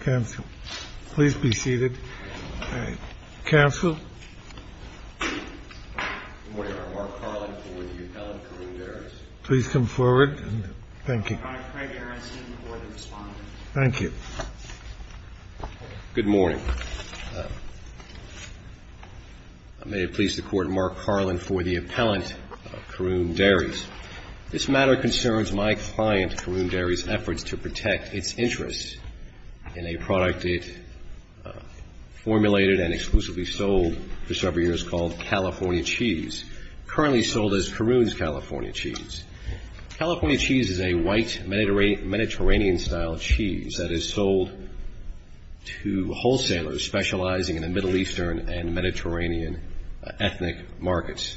Council, please be seated. Council. Please come forward. Thank you. Thank you. Good morning. May it please the court, Mark Carlin for the appellant of Caroon Dairies. This matter concerns my client Caroon Dairies' efforts to protect its interests in a product it formulated and exclusively sold for several years called California Cheese, currently sold as Caroon's California Cheese. California Cheese is a white Mediterranean-style cheese that is sold to wholesalers specializing in the Middle Eastern and Mediterranean ethnic markets.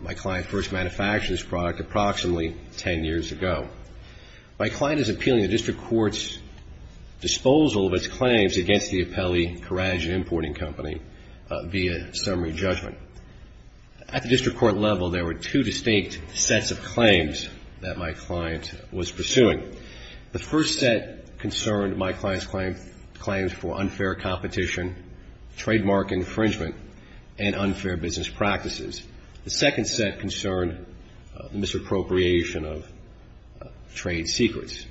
My client first manufactured this product approximately 10 years ago. My client is appealing the district court's disposal of its claims against the Apelli Courage importing company via summary judgment. At the district court level, there were two distinct sets of claims that my client was pursuing. The first set concerned my client's claims for unfair competition, trademark infringement, and unfair business practices. The second set concerned the misappropriation of trade secrets.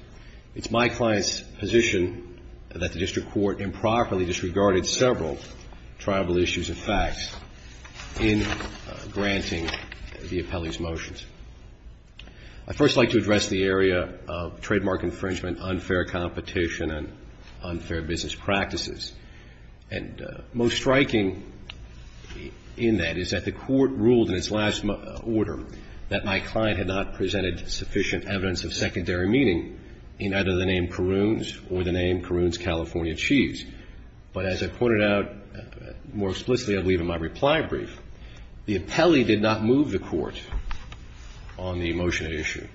It's my client's position that the district court improperly disregarded several tribal issues and facts in granting the Apelli's motions. I'd first like to address the area of trademark infringement, unfair competition, and unfair business practices. And most striking in that is that the court ruled in its last order that my client had not presented sufficient evidence of secondary meaning in either the name Caroon's or the name Caroon's California Cheese. But as I pointed out more explicitly, I believe, in my reply brief, the Apelli did not move the court on the motion at issue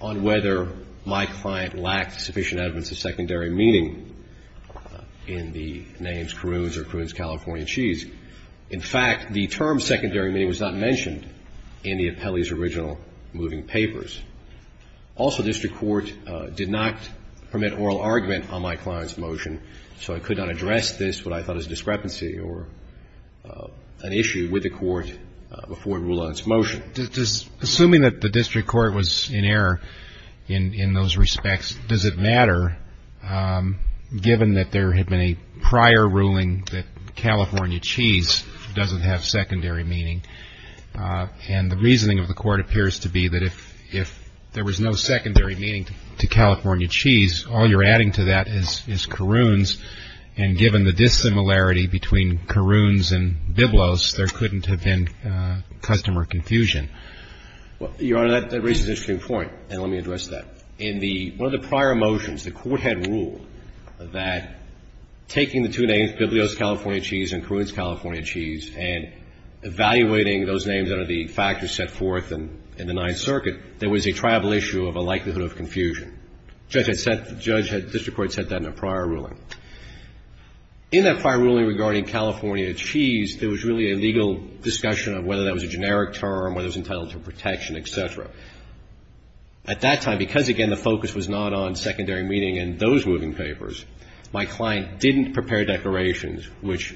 on whether my client lacked sufficient evidence of secondary meaning in the names Caroon's or Caroon's California Cheese. In fact, the term secondary meaning was not mentioned in the Apelli's original moving papers. Also, district court did not permit oral argument on my client's motion, so I could not address this, what I thought was a discrepancy or an issue with the court before it ruled on its motion. Assuming that the district court was in error in those respects, does it matter, given that there had been a prior ruling that California Cheese doesn't have secondary meaning, and the reasoning of the court appears to be that if there was no secondary meaning to California Cheese, all you're adding to that is Caroon's, and given the dissimilarity between Caroon's and Biblos, there couldn't have been customer confusion. Well, Your Honor, that raises an interesting point, and let me address that. In the one of the prior motions, the court had ruled that taking the two names, Biblos California Cheese and Caroon's California Cheese, and evaluating those names under the factors set forth in the Ninth Circuit, there was a triable issue of a likelihood of confusion. The judge had set the district court set that in a prior ruling. In that prior ruling regarding California Cheese, there was really a legal discussion of whether that was a generic term, whether it was entitled to protection, et cetera. At that time, because, again, the focus was not on secondary meaning in those moving papers, my client didn't prepare declarations which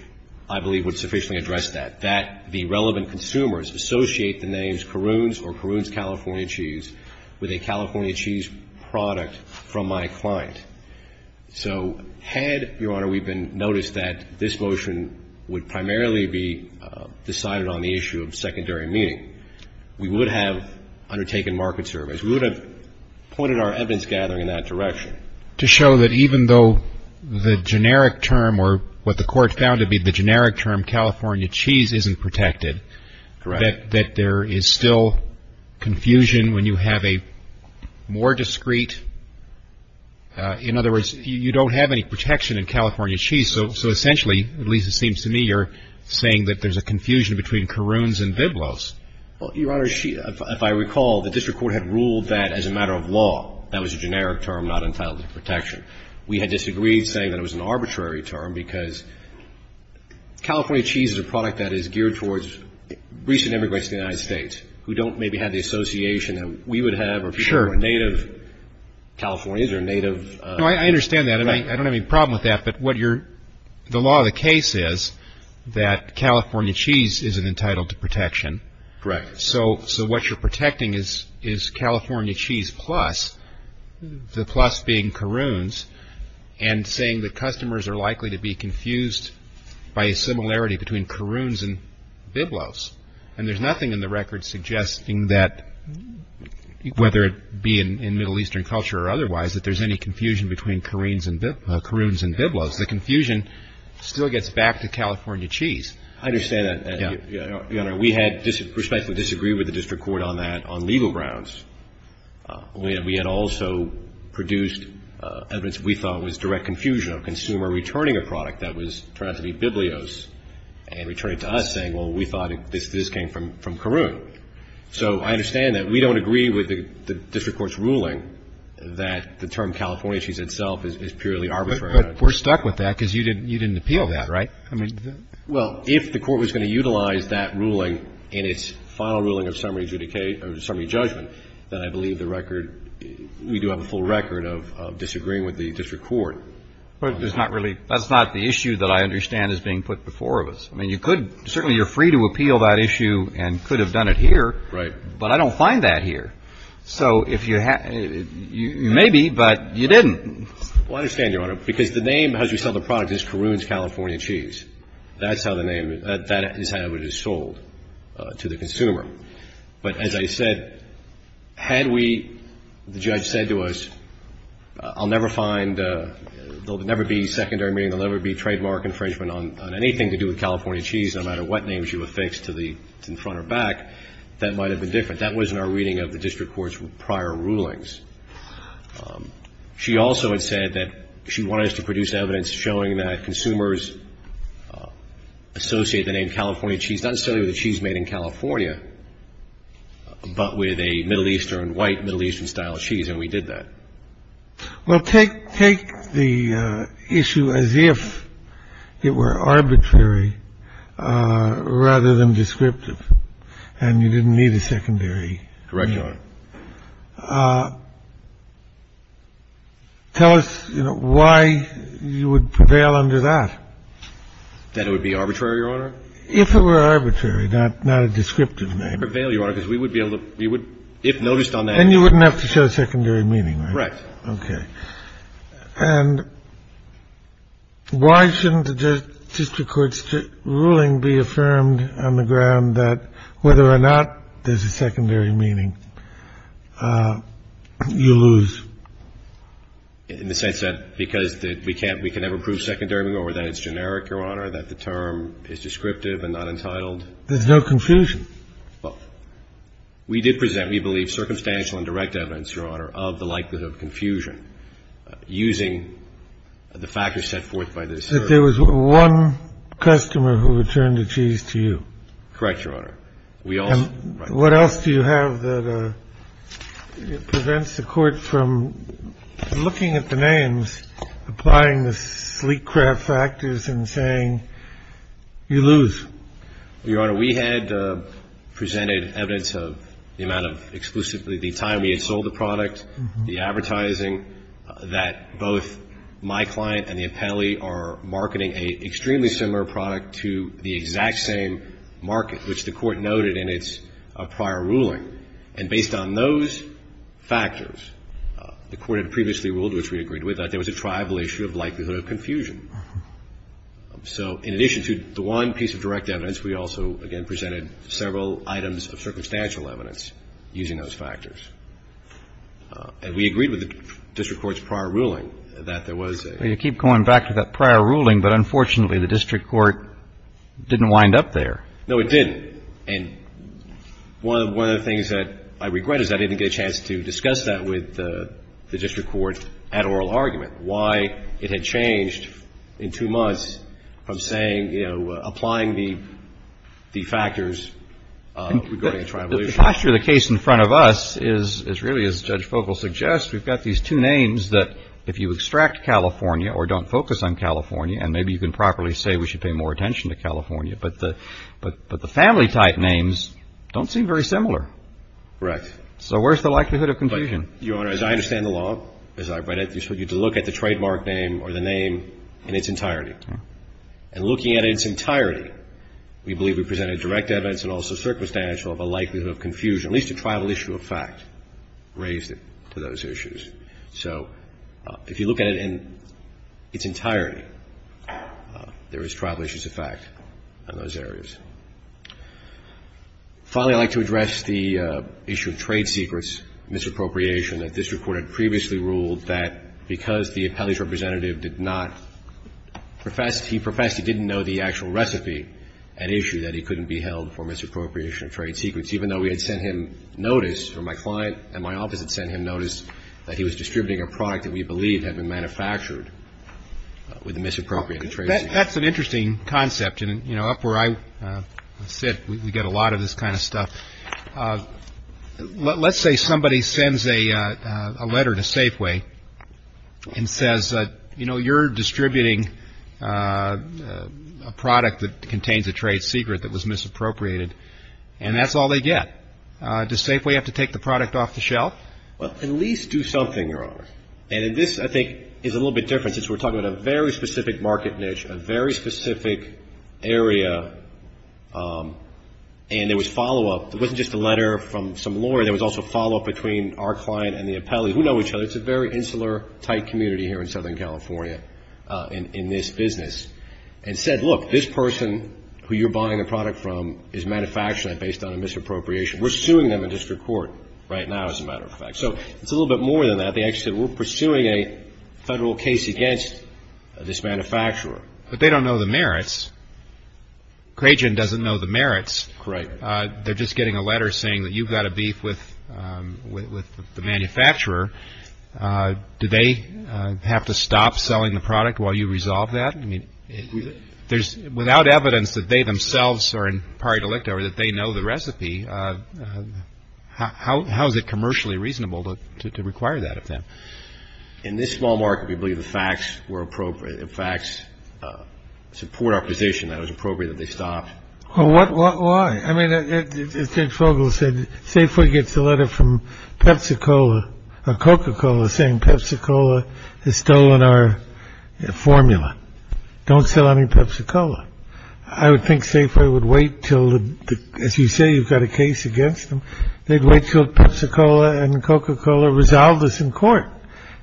I believe would sufficiently address that, that the relevant consumers associate the names Caroon's or Caroon's California Cheese with a California Cheese product from my client. So had, Your Honor, we been noticed that this motion would primarily be decided on the issue of secondary meaning, we would have undertaken market surveys. We would have pointed our evidence gathering in that direction. To show that even though the generic term, or what the court found to be the generic term California Cheese isn't protected, that there is still confusion when you have a more discreet, in other words, you don't have any protection in California Cheese. So essentially, at least it seems to me, you're saying that there's a confusion between Caroon's and Biblos. Well, Your Honor, if I recall, the district court had ruled that as a matter of law, that was a generic term not entitled to protection. We had disagreed saying that it was an arbitrary term because California Cheese is a product that is geared towards recent immigrants to the United States who don't maybe have the association that we would have or people who are native Californians or native. No, I understand that. I don't have any problem with that, but the law of the case is that California Cheese isn't entitled to protection. Correct. So what you're protecting is California Cheese plus, the plus being Caroon's and saying that customers are likely to be confused by a similarity between Caroon's and Biblos. And there's nothing in the record suggesting that, whether it be in Middle Eastern culture or otherwise, that there's any confusion between Caroon's and Biblos. The confusion still gets back to California Cheese. I understand that, Your Honor. We had respectfully disagreed with the district court on that on legal grounds. We had also produced evidence that we thought was direct confusion of consumer returning a product that was trying to be Biblos and returning to us saying, well, we thought this came from Caroon. So I understand that. We don't agree with the district court's ruling that the term California Cheese itself is purely arbitrary. But we're stuck with that because you didn't appeal that, right? Well, if the court was going to utilize that ruling in its final ruling of summary judgment, then I believe the record, we do have a full record of disagreeing with the district court. But there's not really, that's not the issue that I understand is being put before us. I mean, you could, certainly you're free to appeal that issue and could have done it here. Right. But I don't find that here. So if you, maybe, but you didn't. Well, I understand, Your Honor, because the name as we sell the product is Caroon's California Cheese. That's how the name, that is how it is sold to the consumer. But as I said, had we, the judge said to us, I'll never find, there'll never be secondary meaning, there'll never be trademark infringement on anything to do with California Cheese, no matter what name she would fix to the front or back, that might have been different. That was in our reading of the district court's prior rulings. She also had said that she wanted us to produce evidence showing that consumers associate the name California Cheese, not necessarily with the cheese made in California, but with a Middle Eastern, white, Middle Eastern style of cheese. And we did that. Well, take the issue as if it were arbitrary rather than descriptive and you didn't need a secondary. Correct, Your Honor. Tell us why you would prevail under that. That it would be arbitrary, Your Honor? If it were arbitrary, not a descriptive name. We would prevail, Your Honor, because we would be able to, we would, if noticed on that. Then you wouldn't have to show secondary meaning, right? Correct. Okay. And why shouldn't the district court's ruling be affirmed on the ground that whether or not there's a secondary meaning, you lose? In the sense that because we can't, we can never prove secondary meaning or that it's generic, Your Honor, that the term is descriptive and not entitled. There's no confusion. Well, we did present, we believe, circumstantial and direct evidence, Your Honor, of the likelihood of confusion using the factors set forth by the district court. That there was one customer who returned the cheese to you. Correct, Your Honor. And what else do you have that prevents the court from looking at the names, applying the sleek craft factors and saying, you lose? Your Honor, we had presented evidence of the amount of exclusively the time we had sold the product, the advertising, that both my client and the appellee are marketing an extremely similar product to the exact same market, which the court noted in its prior ruling. And based on those factors, the court had previously ruled, which we agreed with, that there was a tribal issue of likelihood of confusion. So in addition to the one piece of direct evidence, we also, again, presented several items of circumstantial evidence using those factors. And we agreed with the district court's prior ruling that there was a Well, you keep going back to that prior ruling, but unfortunately the district court didn't wind up there. No, it didn't. And one of the things that I regret is I didn't get a chance to discuss that with the district court at oral argument, why it had changed in two months from saying, you know, applying the factors regarding tribal issues. The posture of the case in front of us is really, as Judge Fogle suggests, we've got these two names that if you extract California or don't focus on California, and maybe you can properly say we should pay more attention to California, but the family type names don't seem very similar. Right. So where's the likelihood of confusion? Your Honor, as I understand the law, as I read it, you're supposed to look at the trademark name or the name in its entirety. And looking at its entirety, we believe we presented direct evidence and also circumstantial of a likelihood of confusion, at least a tribal issue of fact raised to those issues. So if you look at it in its entirety, there is tribal issues of fact on those areas. Finally, I'd like to address the issue of trade secrets, misappropriation that district court had previously ruled that because the appellee's representative did not profess, he professed he didn't know the actual recipe and issue that he couldn't be held for misappropriation of trade secrets, even though we had sent him notice, or my client and my office had sent him notice, that he was distributing a product that we believed had been manufactured with a misappropriated trade secret. That's an interesting concept. And, you know, up where I sit, we get a lot of this kind of stuff. Let's say somebody sends a letter to Safeway and says, you know, you're distributing a product that contains a trade secret that was misappropriated, and that's all they get. Does Safeway have to take the product off the shelf? Well, at least do something, Your Honor. And this, I think, is a little bit different since we're talking about a very specific market niche, a very specific area, and there was follow-up. It wasn't just a letter from some lawyer. There was also follow-up between our client and the appellee, who know each other. It's a very insular, tight community here in Southern California in this business, and said, look, this person who you're buying the product from is manufacturing it based on a misappropriation. We're suing them in district court right now, as a matter of fact. So it's a little bit more than that. They actually said, we're pursuing a federal case against this manufacturer. But they don't know the merits. Crajan doesn't know the merits. Correct. They're just getting a letter saying that you've got a beef with the manufacturer. Do they have to stop selling the product while you resolve that? I mean, there's without evidence that they themselves are in pari delicto or that they know the recipe. How is it commercially reasonable to require that of them? In this small market, we believe the facts were appropriate. The facts support our position that it was appropriate that they stop. Well, what? Why? I mean, as Judge Fogle said, Safeway gets a letter from Pepsi-Cola or Coca-Cola saying Pepsi-Cola has stolen our formula. Don't sell any Pepsi-Cola. I would think Safeway would wait till, as you say, you've got a case against them. They'd wait till Pepsi-Cola and Coca-Cola resolved this in court.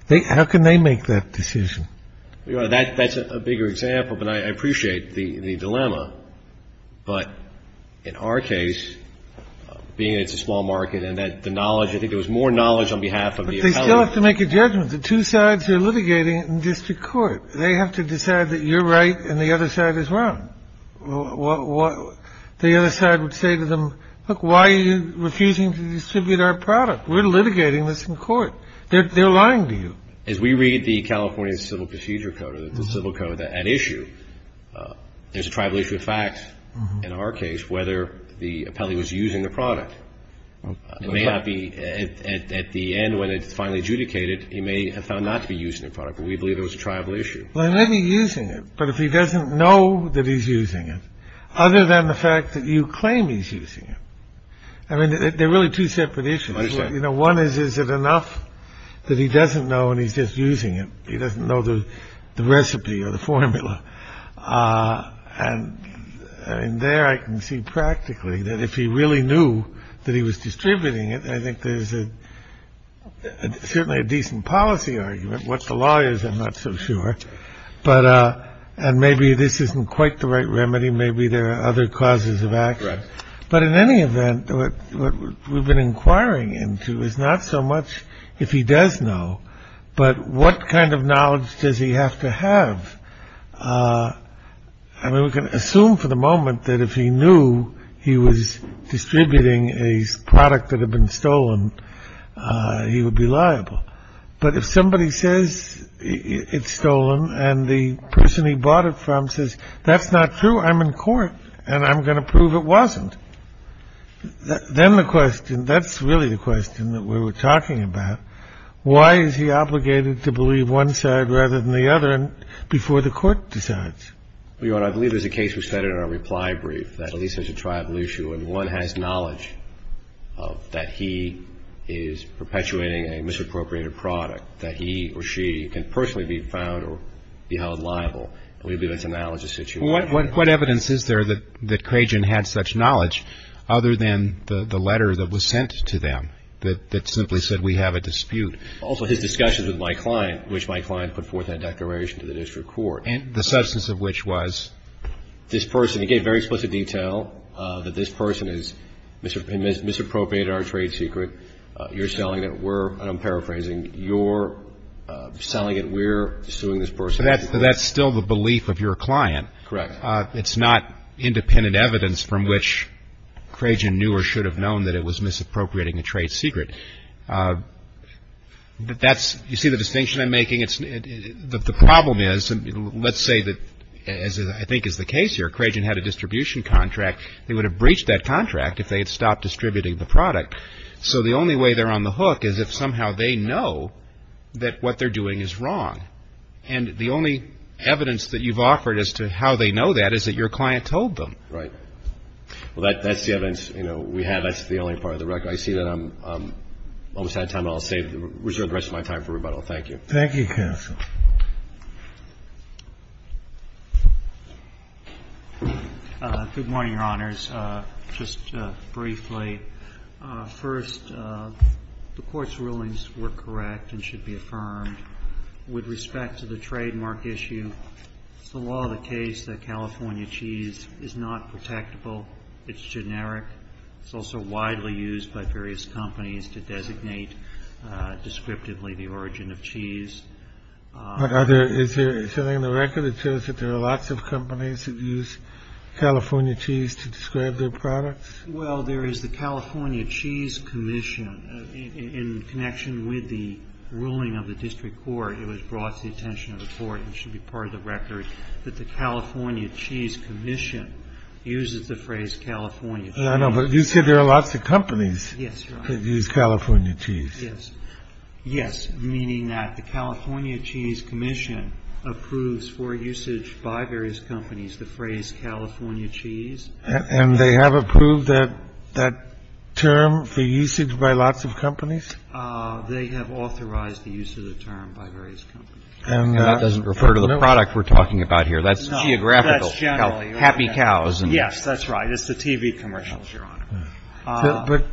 How can they make that decision? But in our case, being that it's a small market and that the knowledge, I think there was more knowledge on behalf of the appellate. But they still have to make a judgment. The two sides are litigating it in district court. They have to decide that you're right and the other side is wrong. The other side would say to them, look, why are you refusing to distribute our product? We're litigating this in court. They're lying to you. As we read the California Civil Procedure Code or the civil code at issue, there's a tribal issue of fact in our case, whether the appellee was using the product. It may not be. At the end, when it's finally adjudicated, he may have found not to be using the product. But we believe it was a tribal issue. Well, he may be using it. But if he doesn't know that he's using it, other than the fact that you claim he's using it. I mean, they're really two separate issues. You know, one is, is it enough that he doesn't know and he's just using it? He doesn't know the recipe or the formula. And in there, I can see practically that if he really knew that he was distributing it, I think there's certainly a decent policy argument. What's the law is I'm not so sure. But and maybe this isn't quite the right remedy. Maybe there are other causes of action. But in any event, we've been inquiring into is not so much if he does know. But what kind of knowledge does he have to have? I mean, we can assume for the moment that if he knew he was distributing a product that had been stolen, he would be liable. But if somebody says it's stolen and the person he bought it from says that's not true, I'm in court. And I'm going to prove it wasn't. Then the question, that's really the question that we were talking about, why is he obligated to believe one side rather than the other before the court decides? Your Honor, I believe there's a case we said in our reply brief that at least there's a tribal issue and one has knowledge of that he is perpetuating a misappropriated product, that he or she can personally be found or be held liable. And we believe that's a knowledge issue. Well, what evidence is there that Crajan had such knowledge other than the letter that was sent to them that simply said we have a dispute? Also his discussion with my client, which my client put forth that declaration to the district court. And the substance of which was? This person. He gave very explicit detail that this person has misappropriated our trade secret. You're selling it. We're, and I'm paraphrasing, you're selling it. We're suing this person. But that's still the belief of your client. Correct. It's not independent evidence from which Crajan knew or should have known that it was misappropriating a trade secret. But that's, you see the distinction I'm making? The problem is, let's say that, as I think is the case here, Crajan had a distribution contract. They would have breached that contract if they had stopped distributing the product. So the only way they're on the hook is if somehow they know that what they're doing is wrong. And the only evidence that you've offered as to how they know that is that your client told them. Right. Well, that's the evidence, you know, we have. That's the only part of the record. I see that I'm almost out of time. I'll save, reserve the rest of my time for rebuttal. Thank you. Thank you, counsel. Good morning, Your Honors. Just briefly. First, the court's rulings were correct and should be affirmed. With respect to the trademark issue, it's the law of the case that California cheese is not protectable. It's generic. It's also widely used by various companies to designate descriptively the origin of cheese. Is there something in the record that shows that there are lots of companies that use California cheese to describe their products? Well, there is the California Cheese Commission in connection with the ruling of the district court. It was brought to the attention of the court and should be part of the record that the California Cheese Commission uses the phrase California. I know, but you said there are lots of companies. Yes. California cheese. Yes. Yes. Meaning that the California Cheese Commission approves for usage by various companies the phrase California cheese. And they have approved that term for usage by lots of companies. They have authorized the use of the term by various companies. That doesn't refer to the product we're talking about here. That's geographical. That's generally. Yes, that's right. It's the TV commercials, Your Honor. But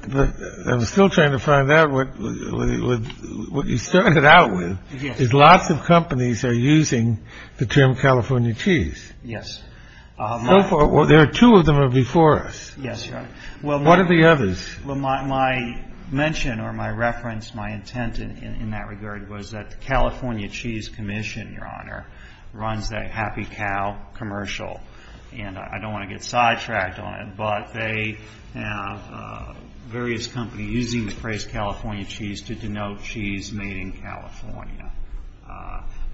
I'm still trying to find out what you started out with is lots of companies are using the term California cheese. Yes. So far. Well, there are two of them are before us. Yes. Well, what are the others? Well, my my mention or my reference, my intent in that regard was that the California Cheese Commission, Your Honor, runs that happy cow commercial. And I don't want to get sidetracked on it. But they have various companies using the phrase California cheese to denote cheese made in California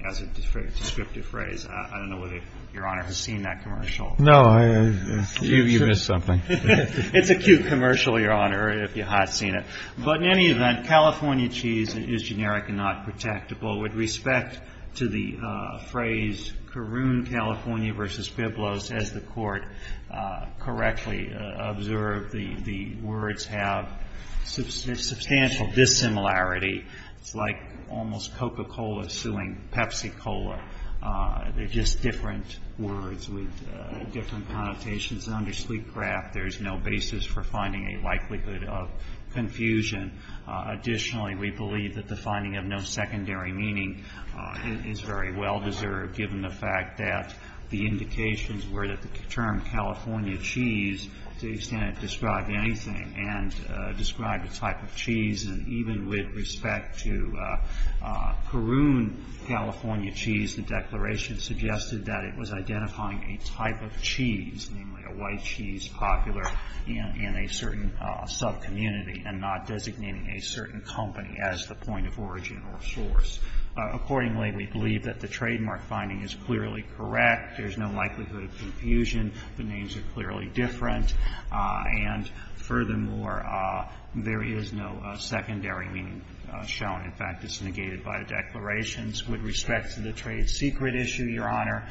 as a descriptive phrase. I don't know whether Your Honor has seen that commercial. No. You missed something. It's a cute commercial, Your Honor, if you haven't seen it. But in any event, California cheese is generic and not protectable. With respect to the phrase Caroon California versus Piblos, as the court correctly observed, the words have substantial dissimilarity. It's like almost Coca-Cola suing Pepsi-Cola. They're just different words with different connotations. There's no basis for finding a likelihood of confusion. Additionally, we believe that the finding of no secondary meaning is very well deserved, given the fact that the indications were that the term California cheese, to the extent it described anything, and described a type of cheese, and even with respect to Caroon California cheese, the declaration suggested that it was identifying a type of cheese, namely a white cheese popular in a certain sub-community and not designating a certain company as the point of origin or source. Accordingly, we believe that the trademark finding is clearly correct. There's no likelihood of confusion. The names are clearly different. And furthermore, there is no secondary meaning shown. In fact, it's negated by the declarations. With respect to the trade secret issue, Your Honor,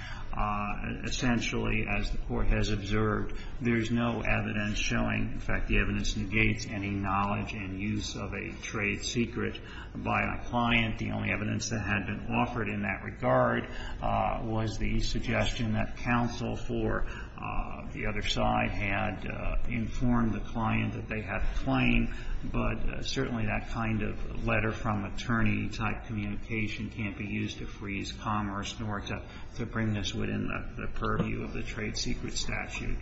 essentially, as the court has observed, there's no evidence showing. In fact, the evidence negates any knowledge and use of a trade secret by a client. The only evidence that had been offered in that regard was the suggestion that counsel for the other side had informed the client that they had a claim. But certainly that kind of letter-from-attorney-type communication can't be used to freeze commerce nor to bring this within the purview of the trade secret statute.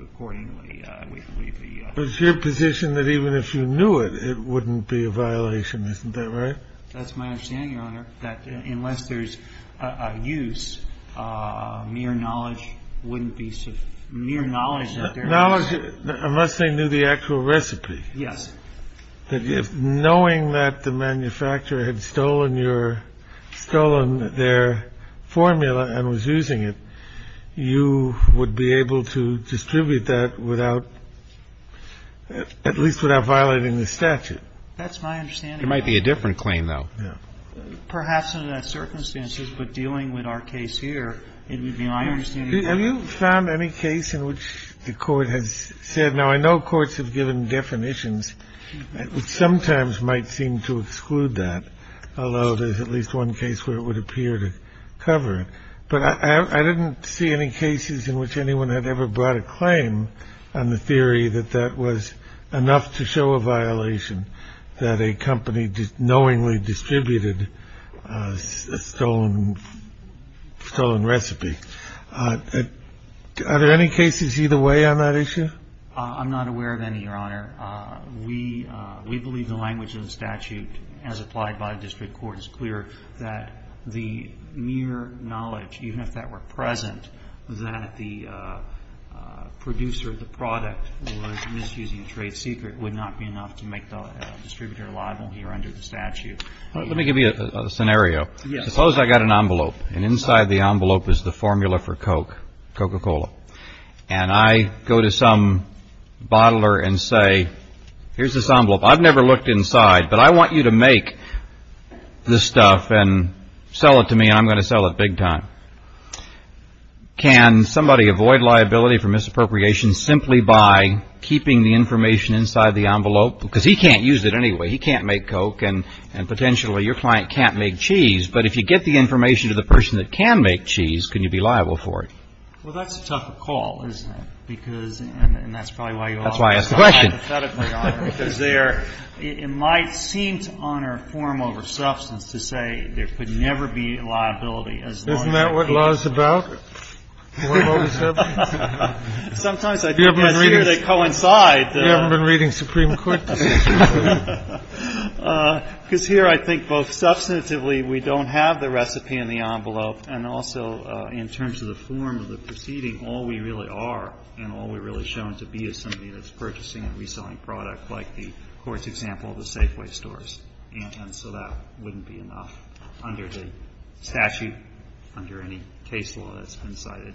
Accordingly, we believe the... But it's your position that even if you knew it, it wouldn't be a violation. Isn't that right? That's my understanding, Your Honor, that unless there's a use, mere knowledge wouldn't be sufficient. Mere knowledge... Knowledge, unless they knew the actual recipe. Yes. If knowing that the manufacturer had stolen your – stolen their formula and was using it, you would be able to distribute that without – at least without violating the statute. That's my understanding, Your Honor. It might be a different claim, though. Yeah. Perhaps under the circumstances, but dealing with our case here, it would be my understanding... Have you found any case in which the court has said... Now, I know courts have given definitions which sometimes might seem to exclude that, although there's at least one case where it would appear to cover it. But I didn't see any cases in which anyone had ever brought a claim on the theory that that was enough to show a violation, that a company knowingly distributed a stolen recipe. Are there any cases either way on that issue? I'm not aware of any, Your Honor. We believe the language of the statute as applied by district court is clear, that the mere knowledge, even if that were present, that the producer of the product was misusing a trade secret would not be enough to make the distributor liable here under the statute. Let me give you a scenario. Yes. Suppose I got an envelope, and inside the envelope is the formula for Coke, Coca-Cola. And I go to some bottler and say, here's this envelope. I've never looked inside, but I want you to make this stuff and sell it to me, and I'm going to sell it big time. Can somebody avoid liability for misappropriation simply by keeping the information inside the envelope? Because he can't use it anyway. He can't make Coke, and potentially your client can't make cheese. But if you get the information to the person that can make cheese, can you be liable for it? Well, that's a tough call, isn't it? Because, and that's probably why you all are so empathetically on it. That's why I asked the question. Because it might seem to honor form over substance to say there could never be liability as long as you keep the information. Isn't that what law is about? Sometimes I think that's where they coincide. You ever been reading Supreme Court? Because here I think both substantively we don't have the recipe in the envelope and also in terms of the form of the proceeding, all we really are and all we're really shown to be is something that's purchasing and reselling product like the court's example of the Safeway stores. And so that wouldn't be enough under the statute, under any case law that's been cited.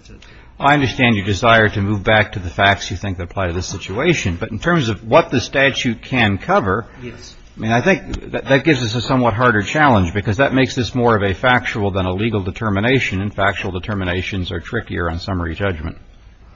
I understand your desire to move back to the facts you think apply to this situation. But in terms of what the statute can cover, I mean, I think that gives us a somewhat harder challenge because that makes this more of a factual than a legal determination and factual determinations are trickier on summary judgment.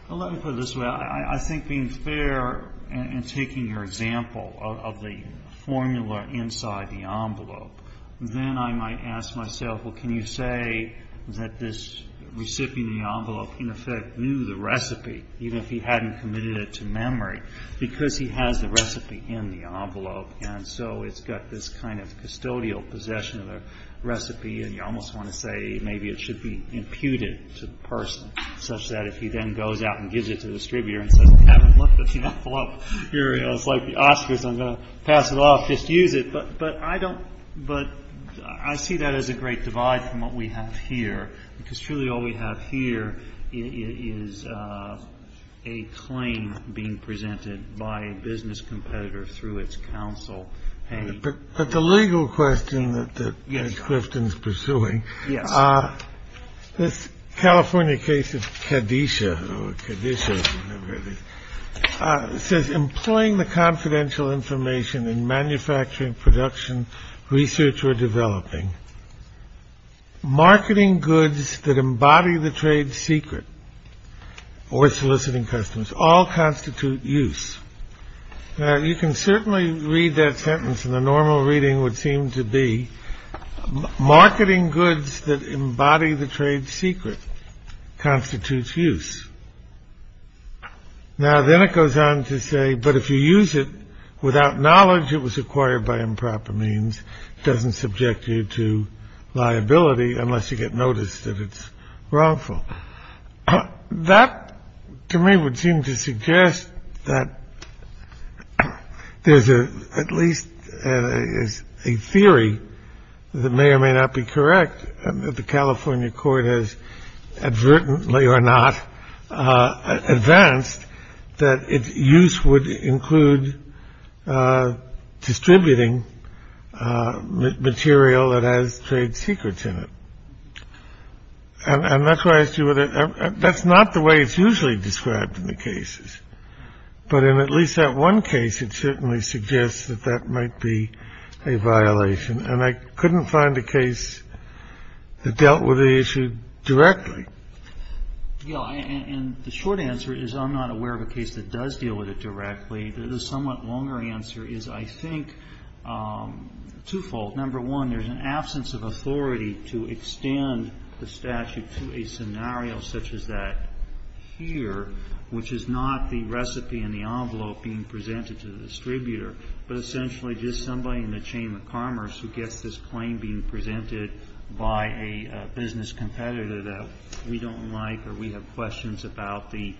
Well, let me put it this way. I think being fair and taking your example of the formula inside the envelope, then I might ask myself, well, can you say that this recipient of the envelope in effect knew the recipe even if he hadn't committed it to memory because he has the recipe in the envelope. And so it's got this kind of custodial possession of the recipe and you almost want to say maybe it should be imputed to the person such that if he then goes out and gives it to the distributor and says, Kevin, look at the envelope. It's like the Oscars. I'm going to pass it off. Just use it. But I see that as a great divide from what we have here because truly all we have here is a claim being presented by a business competitor through its counsel. But the legal question that Quifton is pursuing. Yes. This California case of Kadesha says, employing the confidential information in manufacturing, production, research, or developing marketing goods that embody the trade secret or soliciting customers all constitute use. You can certainly read that sentence in the normal reading would seem to be marketing goods that embody the trade secret constitutes use. Now, then it goes on to say, but if you use it without knowledge, it was acquired by improper means. It doesn't subject you to liability unless you get noticed that it's wrongful. That to me would seem to suggest that there's at least a theory that may or may not be correct. The California court has advertently or not advanced that its use would include distributing material that has trade secrets in it. And that's why I do it. That's not the way it's usually described in the cases. But in at least that one case, it certainly suggests that that might be a violation. And I couldn't find a case that dealt with the issue directly. Yeah. And the short answer is I'm not aware of a case that does deal with it directly. The somewhat longer answer is, I think, twofold. Number one, there's an absence of authority to extend the statute to a scenario such as that here, which is not the recipe and the envelope being presented to the distributor, but essentially just somebody in the chain of commerce who gets this claim being presented by a business competitor that we don't like or we have questions about the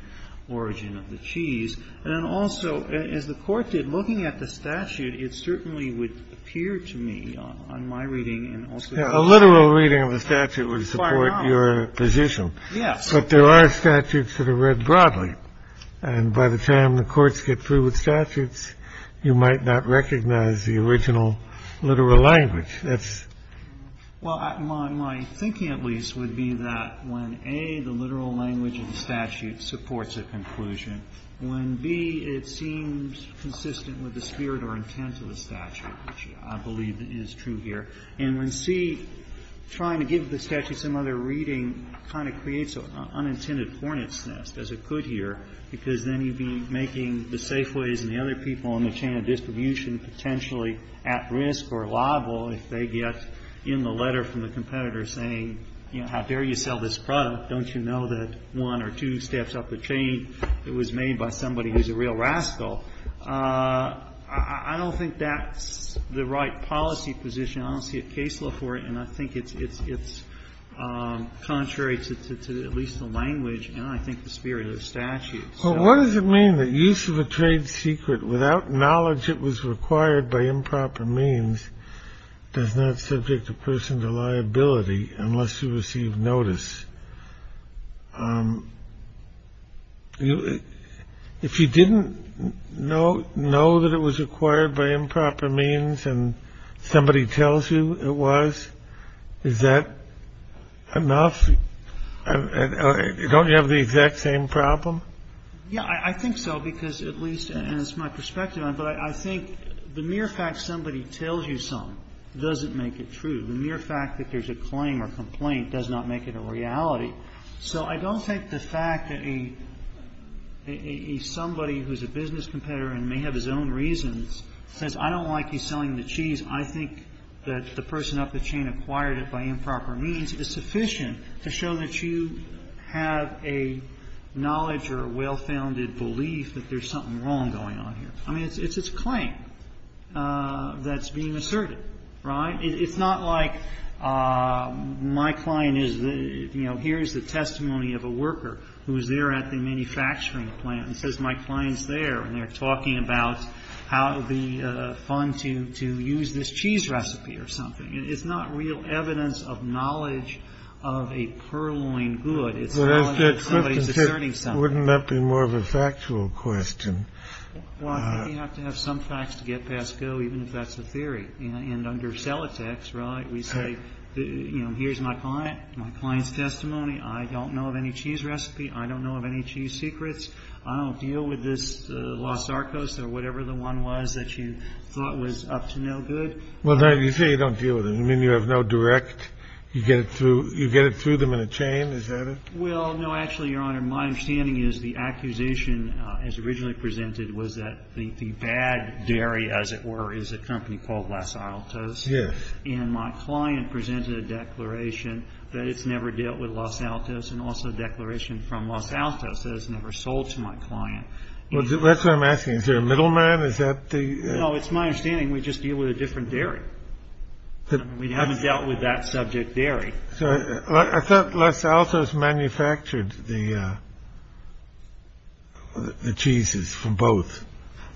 origin of the cheese. And also, as the court did, looking at the statute, it certainly would appear to me on my reading. A literal reading of the statute would support your position. Yes. But there are statutes that are read broadly. And by the time the courts get through with statutes, you might not recognize the original literal language. That's. Well, my thinking at least would be that when, A, the literal language of the statute supports a conclusion, when, B, it seems consistent with the spirit or intent of the statute, which I believe is true here, and when, C, trying to give the statute some other reading kind of creates an unintended hornet's nest, as it could here, because then you'd be making the Safeways and the other people in the chain of distribution potentially at risk or liable if they get in the letter from the competitor saying, you know, how dare you sell this product? Don't you know that one or two steps up the chain? It was made by somebody who's a real rascal. I don't think that's the right policy position. I don't see a case law for it. And I think it's it's it's contrary to at least the language. I think the spirit of the statute. What does it mean that use of a trade secret without knowledge? It was required by improper means. Does not subject a person to liability unless you receive notice. If you didn't know, know that it was acquired by improper means and somebody tells you it was, is that enough? Don't you have the exact same problem? Yeah, I think so, because at least it's my perspective. But I think the mere fact somebody tells you something doesn't make it true. The mere fact that there's a claim or complaint does not make it a reality. So I don't think the fact that a somebody who's a business competitor and may have his own reasons says, I don't like you selling the cheese. I think that the person up the chain acquired it by improper means is sufficient to show that you have a knowledge or a well-founded belief that there's something wrong going on here. I mean, it's a claim that's being asserted, right? It's not like my client is, you know, here's the testimony of a worker who's there at the manufacturing plant and says my client's there and they're talking about how it would be fun to use this cheese recipe or something. It's not real evidence of knowledge of a purloined good. It's somebody's asserting something. Wouldn't that be more of a factual question? Well, I think you have to have some facts to get past go, even if that's the theory. And under Sellotex, right, we say, you know, here's my client, my client's testimony. I don't know of any cheese recipe. I don't know of any cheese secrets. I don't deal with this Los Sarcos or whatever the one was that you thought was up to no good. Well, you say you don't deal with it. You mean you have no direct, you get it through them in a chain? Is that it? Well, no, actually, Your Honor. My understanding is the accusation as originally presented was that the bad dairy, as it were, is a company called Los Altos. Yes. And my client presented a declaration that it's never dealt with Los Altos and also a declaration from Los Altos that it's never sold to my client. Well, that's what I'm asking. Is there a middleman? No, it's my understanding we just deal with a different dairy. We haven't dealt with that subject dairy. So I thought Los Altos manufactured the cheeses from both.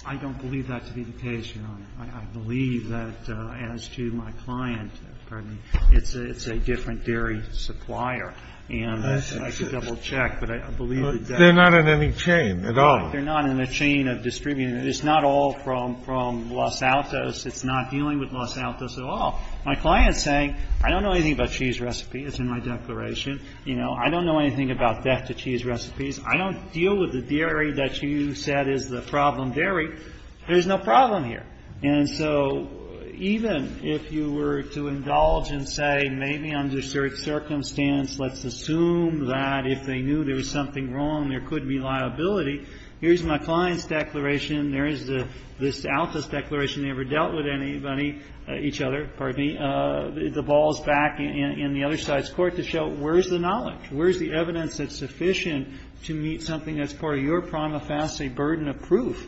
I don't believe that to be the case, Your Honor. I believe that as to my client, it's a different dairy supplier. And I could double-check, but I believe it's that. They're not in any chain at all. They're not in a chain of distribution. It's not all from Los Altos. It's not dealing with Los Altos at all. My client is saying, I don't know anything about cheese recipes in my declaration. I don't know anything about death-to-cheese recipes. I don't deal with the dairy that you said is the problem dairy. There's no problem here. And so even if you were to indulge and say maybe under certain circumstance, let's assume that if they knew there was something wrong, there could be liability. Here's my client's declaration. There is this Altos declaration. They never dealt with anybody, each other, pardon me. The ball is back in the other side's court to show where is the knowledge? Where is the evidence that's sufficient to meet something that's part of your prima facie burden of proof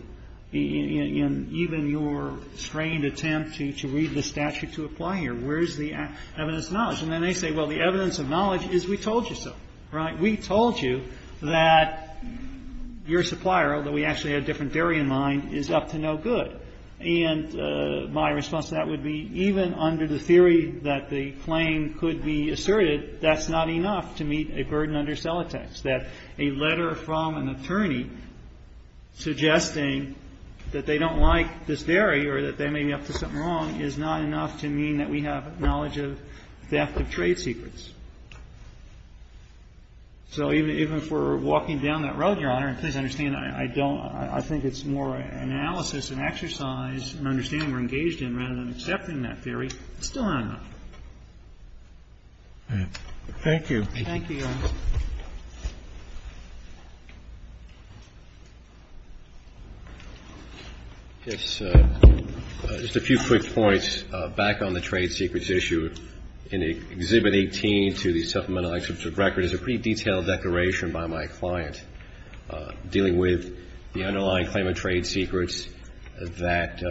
in even your strained attempt to read the statute to apply here? Where is the evidence of knowledge? And then they say, well, the evidence of knowledge is we told you so, right? We told you that your supplier, although we actually had different dairy in mind, is up to no good. And my response to that would be even under the theory that the claim could be asserted, that's not enough to meet a burden under sellotext, that a letter from an attorney suggesting that they don't like this dairy or that they may be up to something wrong is not enough to mean that we have knowledge of theft of trade secrets. So even if we're walking down that road, Your Honor, and please understand, I don't – I think it's more analysis and exercise and understanding we're engaged in rather than accepting that theory, it's still not enough. Thank you. Thank you, Your Honor. Just a few quick points back on the trade secrets issue. In Exhibit 18 to the Supplemental Exhibit Record is a pretty detailed declaration by my client dealing with the underlying claim of trade secrets that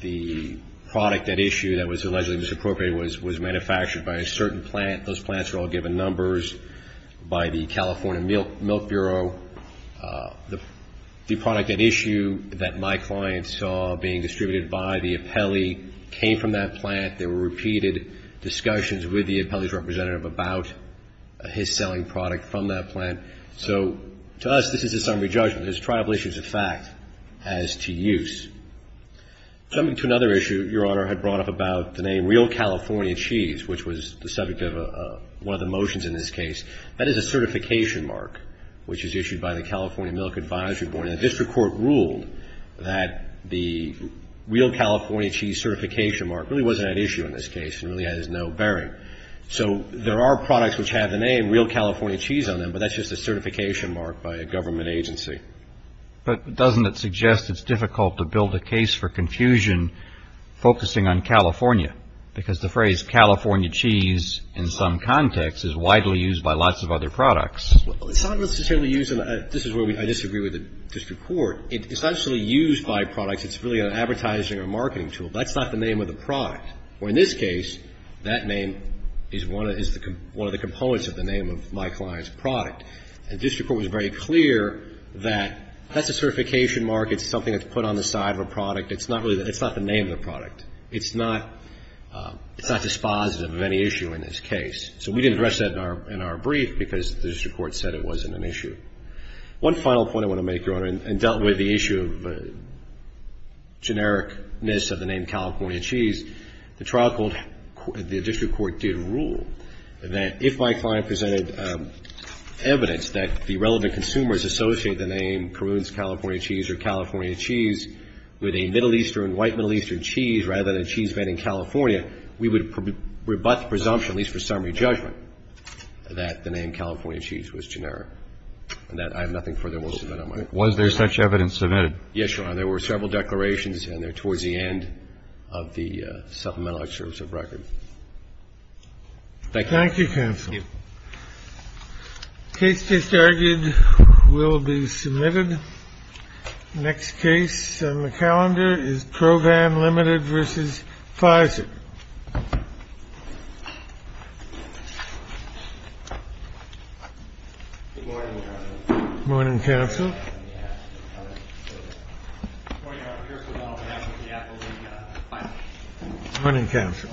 the product at issue that was allegedly misappropriated was manufactured by a certain plant. Those plants are all given numbers. By the California Milk Bureau, the product at issue that my client saw being distributed by the appellee came from that plant. There were repeated discussions with the appellee's representative about his selling product from that plant. So to us, this is a summary judgment. It's a triable issue as a fact as to use. Coming to another issue Your Honor had brought up about the name Real California Cheese, which was the subject of one of the motions in this case. That is a certification mark which is issued by the California Milk Advisory Board. And the district court ruled that the Real California Cheese certification mark really wasn't at issue in this case and really has no bearing. So there are products which have the name Real California Cheese on them, but that's just a certification mark by a government agency. But doesn't it suggest it's difficult to build a case for confusion focusing on California? Because the phrase California Cheese in some context is widely used by lots of other products. Well, it's not necessarily used. This is where I disagree with the district court. It's not necessarily used by products. It's really an advertising or marketing tool. That's not the name of the product. Well, in this case, that name is one of the components of the name of my client's product. And district court was very clear that that's a certification mark. It's something that's put on the side of a product. It's not the name of the product. It's not dispositive of any issue in this case. So we didn't address that in our brief because the district court said it wasn't an issue. One final point I want to make, Your Honor, and dealt with the issue of generic-ness of the name California Cheese, the trial court, the district court did rule that if my client presented evidence that the relevant consumers associate the name Caroon's California Cheese or California Cheese with a Middle Eastern, white Middle Eastern cheese rather than a cheese brand in California, we would rebut the presumption, at least for summary judgment, that the name California Cheese was generic. And that I have nothing further more to submit on my end. Was there such evidence submitted? Yes, Your Honor. There were several declarations, and they're towards the end of the supplemental excerpts of record. Thank you. Thank you, counsel. Thank you. The case just argued will be submitted. The next case on the calendar is ProVan Limited v. Pfizer. Good morning, counsel. Good morning, counsel. Good morning, counsel.